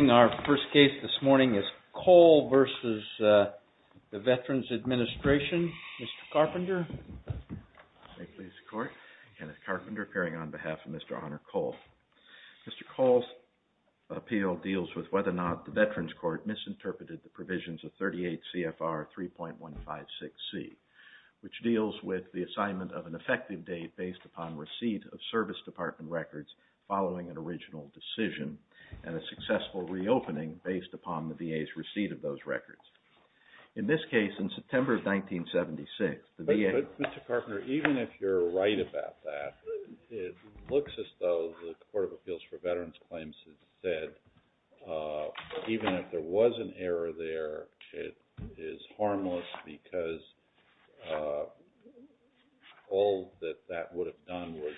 Our first case this morning is Cole versus the Veterans Administration. Mr. Carpenter. Thank you, Mr. Court. Kenneth Carpenter appearing on behalf of Mr. Honor Cole. Mr. Cole's appeal deals with whether or not the Veterans Court misinterpreted the provisions of 38 CFR 3.156C, which deals with the assignment of an effective date based upon receipt of service department records following an original decision and a successful reopening based upon the VA's receipt of those records. In this case, in September of 1976, the VA. Mr. Carpenter, even if you're right about that, it looks as though the Court of Appeals for Veterans Claims said even if there was an error there, it is harmless because all that that would have done was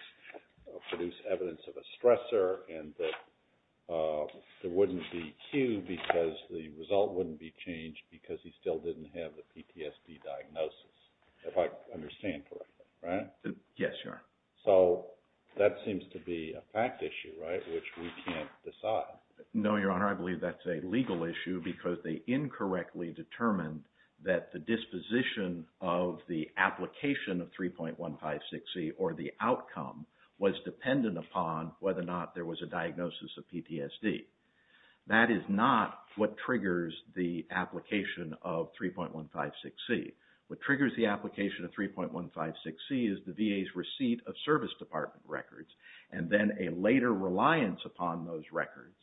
produce evidence of a stressor and that there wouldn't be a cue because the result wouldn't be changed because he still didn't have the PTSD diagnosis, if I understand correctly, right? Yes, Your Honor. So that seems to be a fact issue, right, which we can't decide. No, Your Honor, I believe that's a legal issue because they incorrectly determined that the disposition of the application of 3.156C or the outcome was dependent upon whether or not there was a diagnosis of PTSD. That is not what triggers the application of 3.156C. What triggers the application of 3.156C is the VA's receipt of service department records and then a later reliance upon those records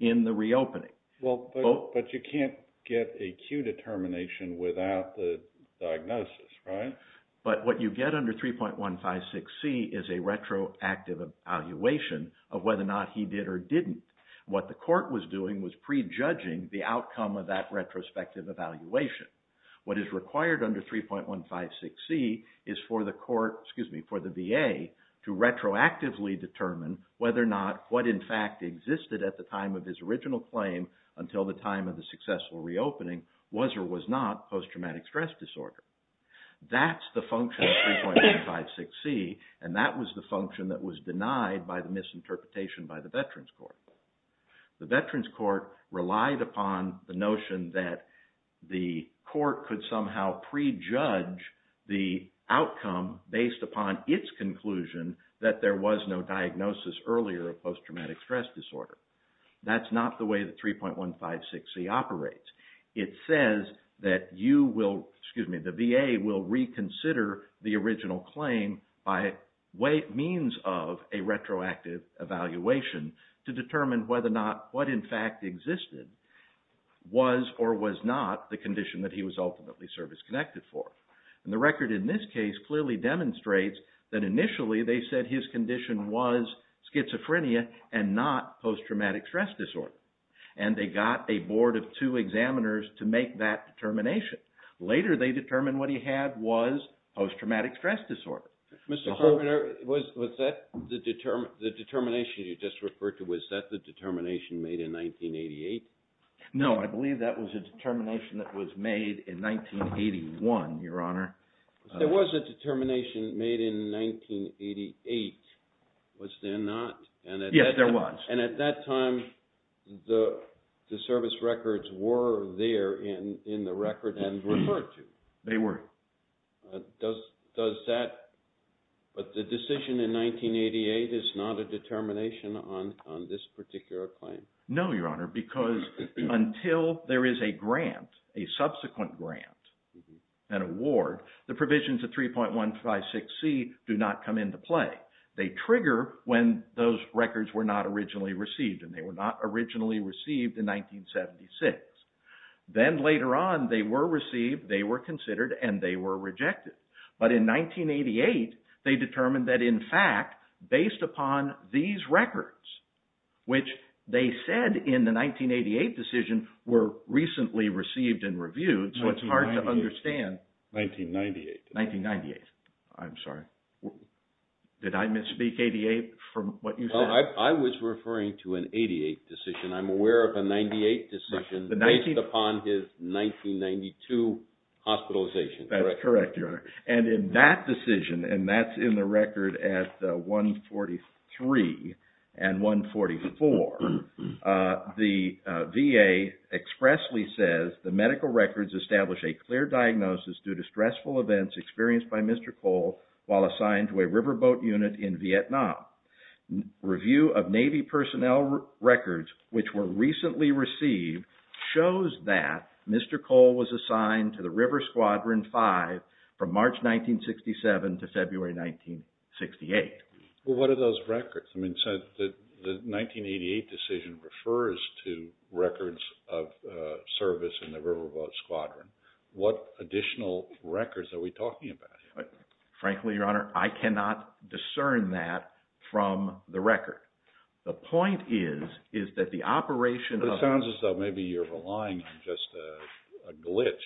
in the reopening. But you can't get a cue determination without the diagnosis, right? But what you get under 3.156C is a retroactive evaluation of whether or not he did or didn't. What the court was doing was prejudging the outcome of that retrospective evaluation. What is required under 3.156C is for the VA to retroactively determine whether or not what in fact existed at the time of his original claim until the time of the successful reopening was or was not post-traumatic stress disorder. That's the function of 3.156C and that was the function that was denied by the misinterpretation by the Veterans Court. The Veterans Court relied upon the notion that the court could somehow prejudge the outcome based upon its conclusion that there was no diagnosis earlier of post-traumatic stress disorder. That's not the way that 3.156C operates. It says that the VA will reconsider the original claim by means of a retroactive evaluation to determine whether or not what in fact existed was or was not the condition that he was ultimately service-connected for. The record in this case clearly demonstrates that initially they said his condition was schizophrenia and not post-traumatic stress disorder. And they got a board of two examiners to make that determination. Later they determined what he had was post-traumatic stress disorder. Mr. Carpenter, was that the determination you just referred to, was that the determination made in 1988? No, I believe that was a determination that was made in 1981, Your Honor. There was a determination made in 1988, was there not? Yes, there was. And at that time, the service records were there in the record and referred to? They were. Does that, but the decision in 1988 is not a determination on this particular claim? No, Your Honor, because until there is a grant, a subsequent grant, an award, the provisions of 3.156C do not come into play. They trigger when those records were not originally received, and they were not originally received in 1976. Then later on, they were received, they were considered, and they were rejected. But in 1988, they determined that in fact, based upon these records, which they said in the 1988 decision were recently received and reviewed. So it's hard to understand. 1998. 1998, I'm sorry. Did I misspeak 88 from what you said? I was referring to an 88 decision. I'm aware of a 98 decision based upon his 1992 hospitalization. That is correct, Your Honor. And in that decision, and that's in the record at 143 and 144, the VA expressly says, The medical records establish a clear diagnosis due to stressful events experienced by Mr. Cole while assigned to a riverboat unit in Vietnam. Review of Navy personnel records, which were recently received, shows that Mr. Cole was assigned to the River Squadron 5 from March 1967 to February 1968. Well, what are those records? I mean, the 1988 decision refers to records of service in the Riverboat Squadron. What additional records are we talking about here? Frankly, Your Honor, I cannot discern that from the record. The point is, is that the operation of It sounds as though maybe you're relying on just a glitch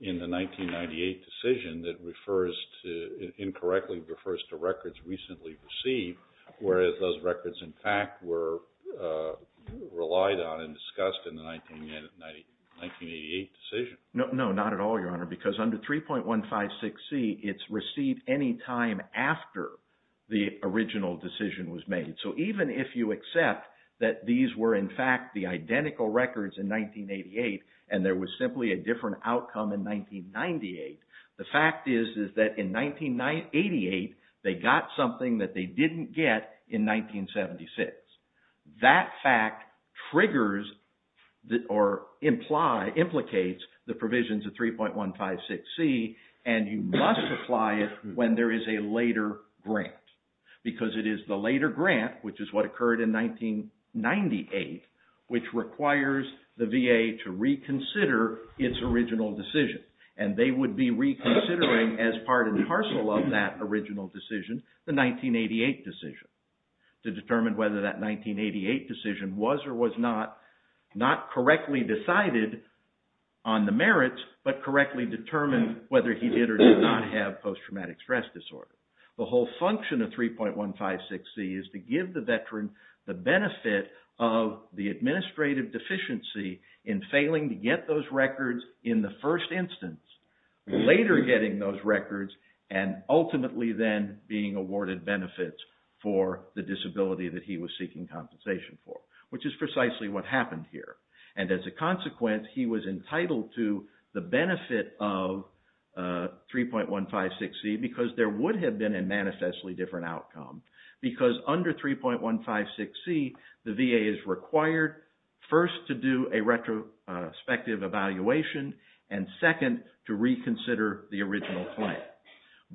in the 1998 decision that refers to, incorrectly refers to records recently received, whereas those records in fact were relied on and discussed in the 1988 decision. No, not at all, Your Honor, because under 3.156C it's received any time after the original decision was made. So even if you accept that these were in fact the identical records in 1988 and there was simply a different outcome in 1998, the fact is that in 1988 they got something that they didn't get in 1976. That fact triggers or implicates the provisions of 3.156C and you must apply it when there is a later grant. Because it is the later grant, which is what occurred in 1998, which requires the VA to reconsider its original decision. And they would be reconsidering as part and parcel of that original decision, the 1988 decision, to determine whether that 1988 decision was or was not, not correctly decided on the merits, but correctly determined whether he did or did not have post-traumatic stress disorder. The whole function of 3.156C is to give the veteran the benefit of the administrative deficiency in failing to get those records in the first instance, later getting those records, and ultimately then being awarded benefits for the disability that he was seeking compensation for, which is precisely what happened here. And as a consequence, he was entitled to the benefit of 3.156C because there would have been a manifestly different outcome. Because under 3.156C, the VA is required first to do a retrospective evaluation and second to reconsider the original plan.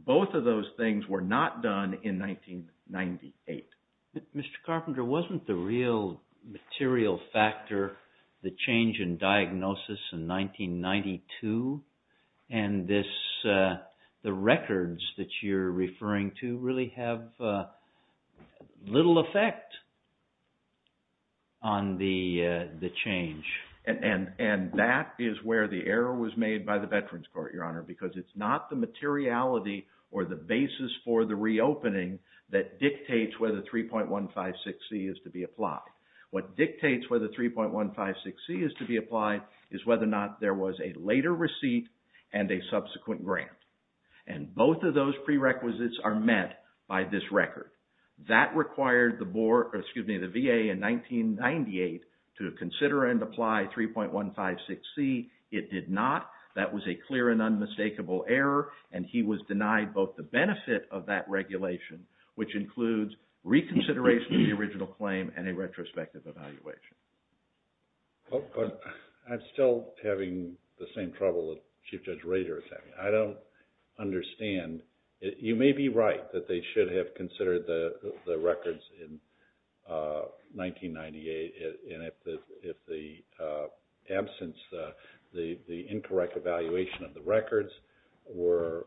Both of those things were not done in 1998. Mr. Carpenter, wasn't the real material factor the change in diagnosis in 1992? And the records that you're referring to really have little effect on the change? And that is where the error was made by the Veterans Court, Your Honor, because it's not the materiality or the basis for the reopening that dictates whether 3.156C is to be applied. What dictates whether 3.156C is to be applied is whether or not there was a later receipt and a subsequent grant. And both of those prerequisites are met by this record. That required the VA in 1998 to consider and apply 3.156C. It did not. That was a clear and unmistakable error, and he was denied both the benefit of that regulation, which includes reconsideration of the original claim and a retrospective evaluation. I'm still having the same trouble that Chief Judge Rader is having. I don't understand. You may be right that they should have considered the records in 1998. And if the absence, the incorrect evaluation of the records was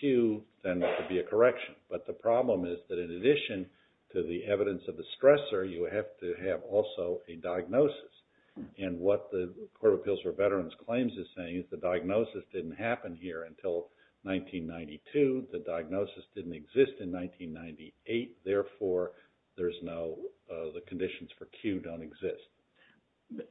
Q, then there should be a correction. But the problem is that in addition to the evidence of the stressor, you have to have also a diagnosis. And what the Court of Appeals for Veterans Claims is saying is the diagnosis didn't happen here until 1992. The diagnosis didn't exist in 1998. Therefore, there's no – the conditions for Q don't exist.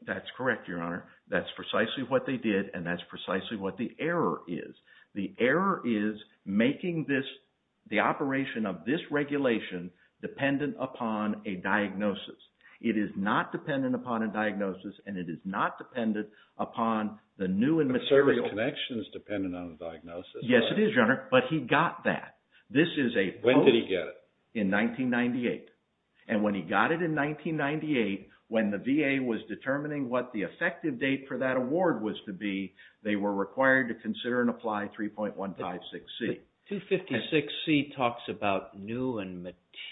That's correct, Your Honor. That's precisely what they did, and that's precisely what the error is. The error is making this – the operation of this regulation dependent upon a diagnosis. It is not dependent upon a diagnosis, and it is not dependent upon the new and material – But the service connection is dependent on the diagnosis, right? Yes, it is, Your Honor. But he got that. This is a – When did he get it? In 1998. And when he got it in 1998, when the VA was determining what the effective date for that award was to be, they were required to consider and apply 3.156C. 256C talks about new and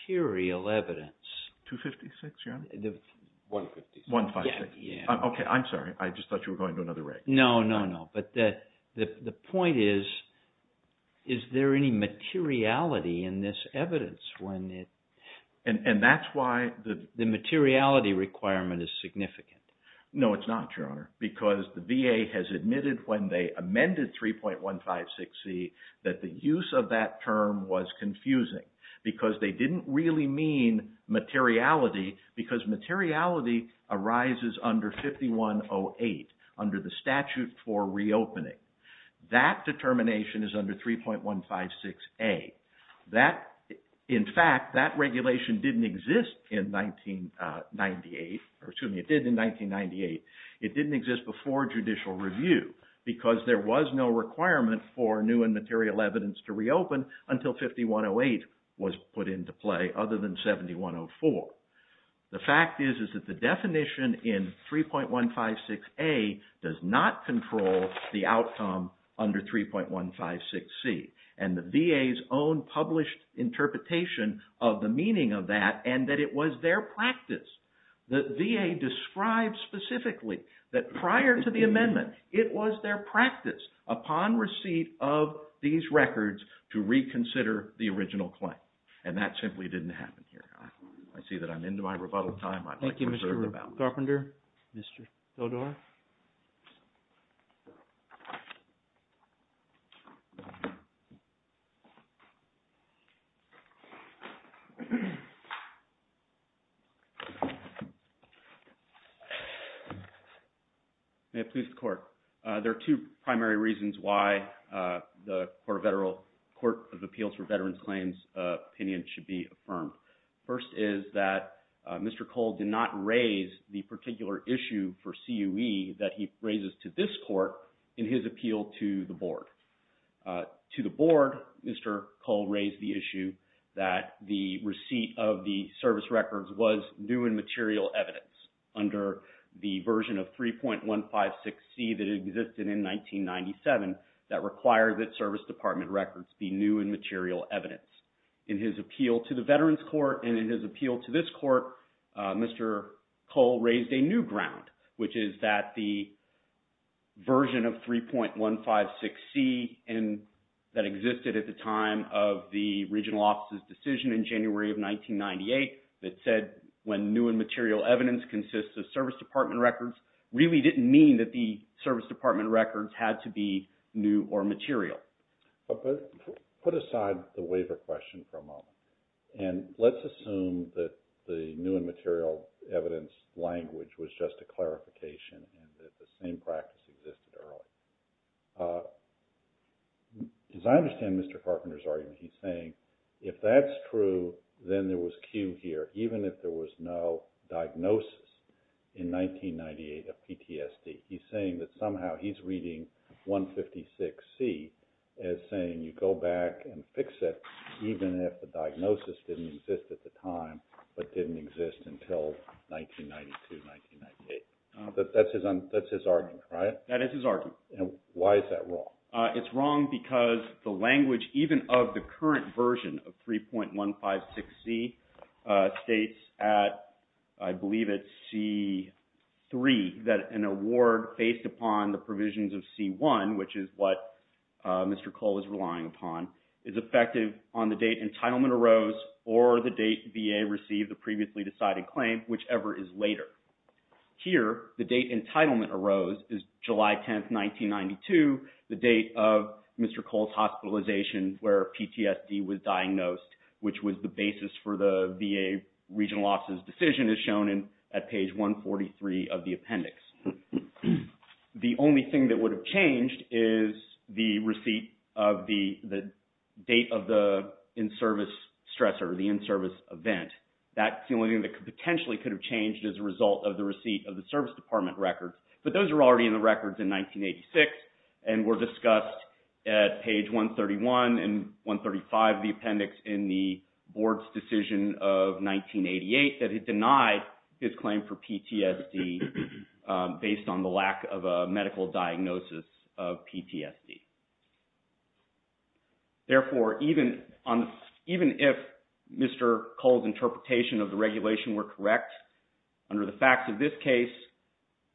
material evidence. 256, Your Honor? 156. 156. Yeah, yeah. Okay, I'm sorry. I just thought you were going to another reg. No, no, no. But the point is, is there any materiality in this evidence when it – And that's why the – The materiality requirement is significant. No, it's not, Your Honor, because the VA has admitted when they amended 3.156C that the use of that term was confusing, because they didn't really mean materiality, because materiality arises under 5108, under the statute for reopening. That determination is under 3.156A. That – in fact, that regulation didn't exist in 1998 – or, excuse me, it did in 1998. It didn't exist before judicial review, because there was no requirement for new and material evidence to reopen until 5108 was put into play, other than 7104. The fact is, is that the definition in 3.156A does not control the outcome under 3.156C, and the VA's own published interpretation of the meaning of that, and that it was their practice. The VA described specifically that prior to the amendment, it was their practice, upon receipt of these records, to reconsider the original claim. And that simply didn't happen here, Your Honor. I see that I'm into my rebuttal time. Thank you, Mr. Carpenter. Mr. Sodor? May it please the Court. There are two primary reasons why the Court of Appeals for Veterans Claims opinion should be affirmed. First is that Mr. Cole did not raise the particular issue for CUE that he raises to this Court in his appeal to the Board. To the Board, Mr. Cole raised the issue that the receipt of the service records was new and material evidence under the version of 3.156C that existed in 1997 that required that service department records be new and material evidence. In his appeal to the Veterans Court, and in his appeal to this Court, Mr. Cole raised a new ground, which is that the version of 3.156C that existed at the time of the regional office's decision in January of 1998 that said, when new and material evidence consists of service department records, really didn't mean that the service department records had to be new or material. Put aside the waiver question for a moment, and let's assume that the new and material evidence language was just a clarification and that the same practice existed earlier. As I understand Mr. Carpenter's argument, he's saying, if that's true, then there was CUE here, even if there was no diagnosis in 1998 of PTSD. He's saying that somehow he's reading 3.156C as saying you go back and fix it, even if the diagnosis didn't exist at the time, but didn't exist until 1992, 1998. That's his argument, right? That is his argument. And why is that wrong? It's wrong because the language, even of the current version of 3.156C, states at, I believe it's C3, that an award based upon the provisions of C1, which is what Mr. Cole is relying upon, is effective on the date entitlement arose or the date VA received the previously decided claim, whichever is later. Here, the date entitlement arose is July 10th, 1992, the date of Mr. Cole's hospitalization where PTSD was diagnosed, which was the basis for the VA regional office's decision as shown at page 143 of the appendix. The only thing that would have changed is the receipt of the date of the in-service stressor, the in-service event. That's the only thing that potentially could have changed as a result of the receipt of the service department record. But those are already in the records in 1986 and were discussed at page 131 and 135 of the appendix in the board's decision of 1988 that it denied his claim for PTSD based on the lack of a medical diagnosis of PTSD. Therefore, even if Mr. Cole's interpretation of the regulation were correct, under the facts of this case,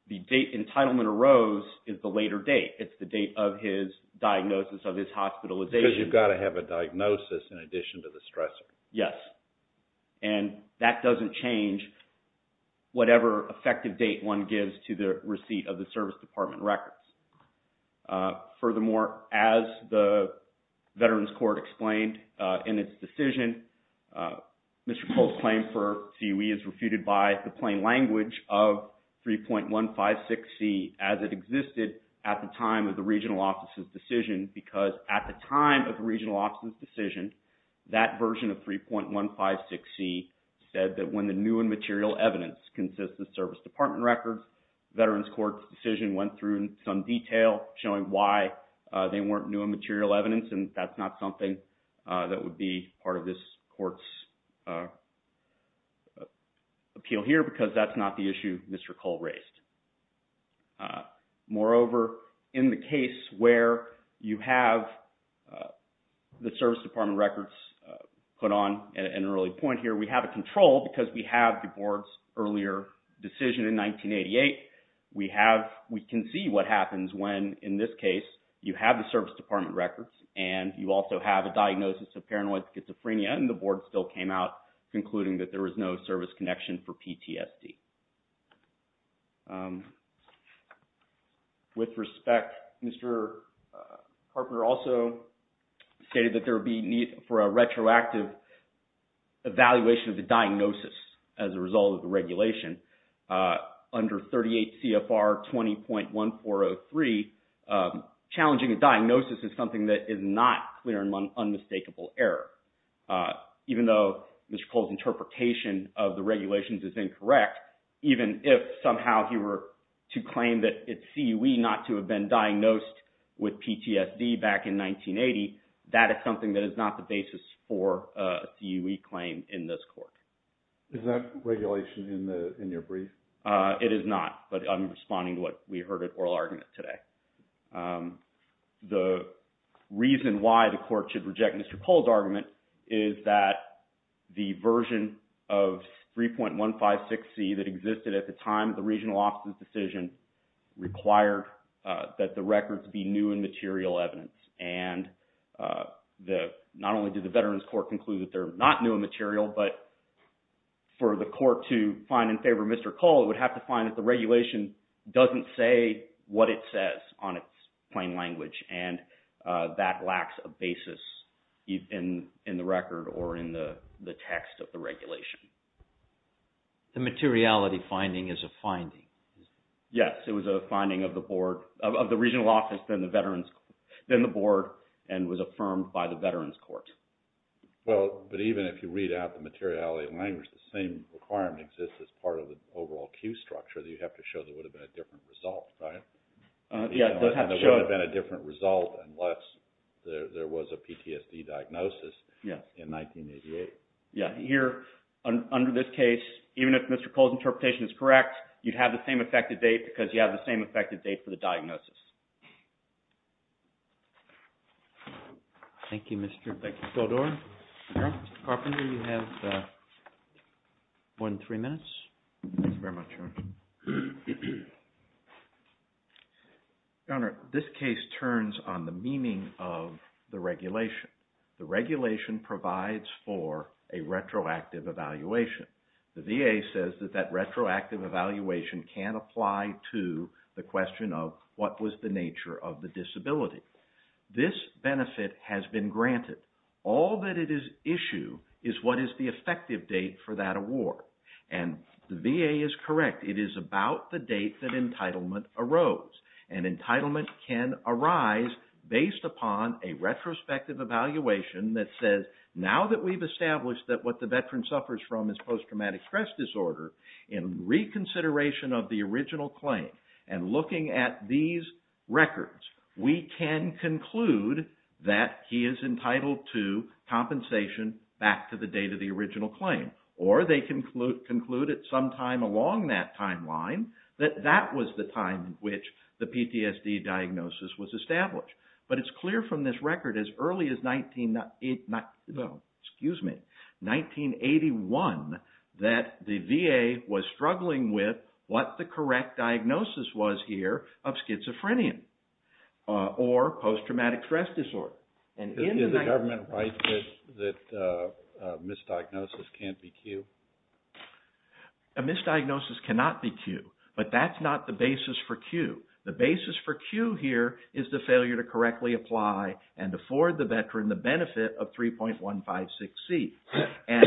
the date entitlement arose is the later date. It's the date of his diagnosis of his hospitalization. Because you've got to have a diagnosis in addition to the stressor. Yes. And that doesn't change whatever effective date one gives to the receipt of the service department records. Furthermore, as the Veterans Court explained in its decision, Mr. Cole's claim for CUE is refuted by the plain language of 3.156C as it existed at the time of the regional office's decision. Because at the time of the regional office's decision, that version of 3.156C said that when the new and material evidence consists of service department records, Veterans Court's decision went through in some detail showing why they weren't new and material evidence. And that's not something that would be part of this court's appeal here because that's not the issue Mr. Cole raised. Moreover, in the case where you have the service department records put on an early point here, we have a control because we have the board's earlier decision in 1988. We can see what happens when, in this case, you have the service department records and you also have a diagnosis of paranoid schizophrenia and the board still came out concluding that there was no service connection for PTSD. With respect, Mr. Harper also stated that there would be need for a retroactive evaluation of the diagnosis as a result of the regulation. Under 38 CFR 20.1403, challenging a diagnosis is something that is not clear and unmistakable error. Even though Mr. Cole's interpretation of the regulations is incorrect, even if somehow he were to claim that it's CUE not to have been diagnosed with PTSD back in 1980, that is something that is not the basis for a CUE claim in this court. Is that regulation in your brief? It is not, but I'm responding to what we heard at oral argument today. The reason why the court should reject Mr. Cole's argument is that the version of 3.156C that existed at the time of the regional office's decision required that the records be new and material evidence. Not only did the Veterans Court conclude that they're not new and material, but for the court to find in favor of Mr. Cole, it would have to find that the regulation doesn't say what it says on its plain language and that lacks a basis in the record or in the text of the regulation. The materiality finding is a finding. Yes, it was a finding of the board – of the regional office, then the board, and was affirmed by the Veterans Court. Well, but even if you read out the materiality language, the same requirement exists as part of the overall CUE structure. You have to show there would have been a different result, right? Yes, you have to show it. There would have been a different result unless there was a PTSD diagnosis in 1988. Yes, here under this case, even if Mr. Cole's interpretation is correct, you'd have the same effective date because you have the same effective date for the diagnosis. Thank you, Mr. Goldorff. Mr. Carpenter, you have one, three minutes. Thank you very much, Your Honor. Your Honor, this case turns on the meaning of the regulation. The regulation provides for a retroactive evaluation. The VA says that that retroactive evaluation can apply to the question of what was the nature of the disability. This benefit has been granted. All that it is issue is what is the effective date for that award. And the VA is correct. It is about the date that entitlement arose. And entitlement can arise based upon a retrospective evaluation that says, now that we've established that what the veteran suffers from is post-traumatic stress disorder, in reconsideration of the original claim and looking at these records, we can conclude that he is entitled to compensation back to the date of the original claim. Or they can conclude at some time along that timeline that that was the time in which the PTSD diagnosis was established. But it's clear from this record as early as 1981 that the VA was struggling with what the correct diagnosis was here of schizophrenia or post-traumatic stress disorder. Is the government right that misdiagnosis can't be Q? A misdiagnosis cannot be Q. But that's not the basis for Q. The basis for Q here is the failure to correctly apply and afford the veteran the benefit of 3.156C. And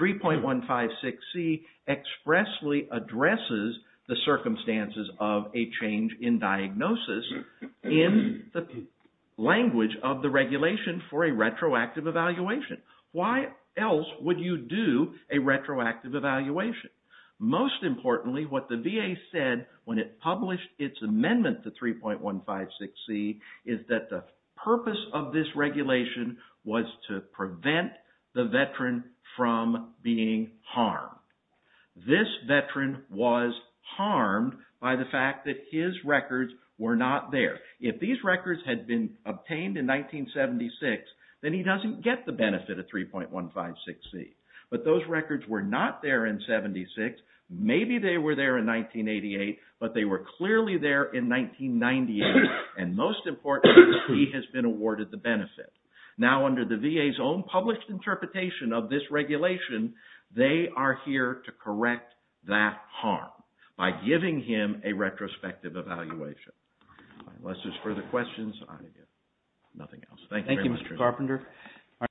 3.156C expressly addresses the circumstances of a change in diagnosis in the language of the regulation for a retroactive evaluation. Why else would you do a retroactive evaluation? Most importantly, what the VA said when it published its amendment to 3.156C is that the purpose of this regulation was to prevent the veteran from being harmed. This veteran was harmed by the fact that his records were not there. If these records had been obtained in 1976, then he doesn't get the benefit of 3.156C. But those records were not there in 1976. Maybe they were there in 1988, but they were clearly there in 1998. And most importantly, he has been awarded the benefit. Now under the VA's own published interpretation of this regulation, they are here to correct that harm by giving him a retrospective evaluation. Unless there's further questions, I have nothing else. Thank you very much.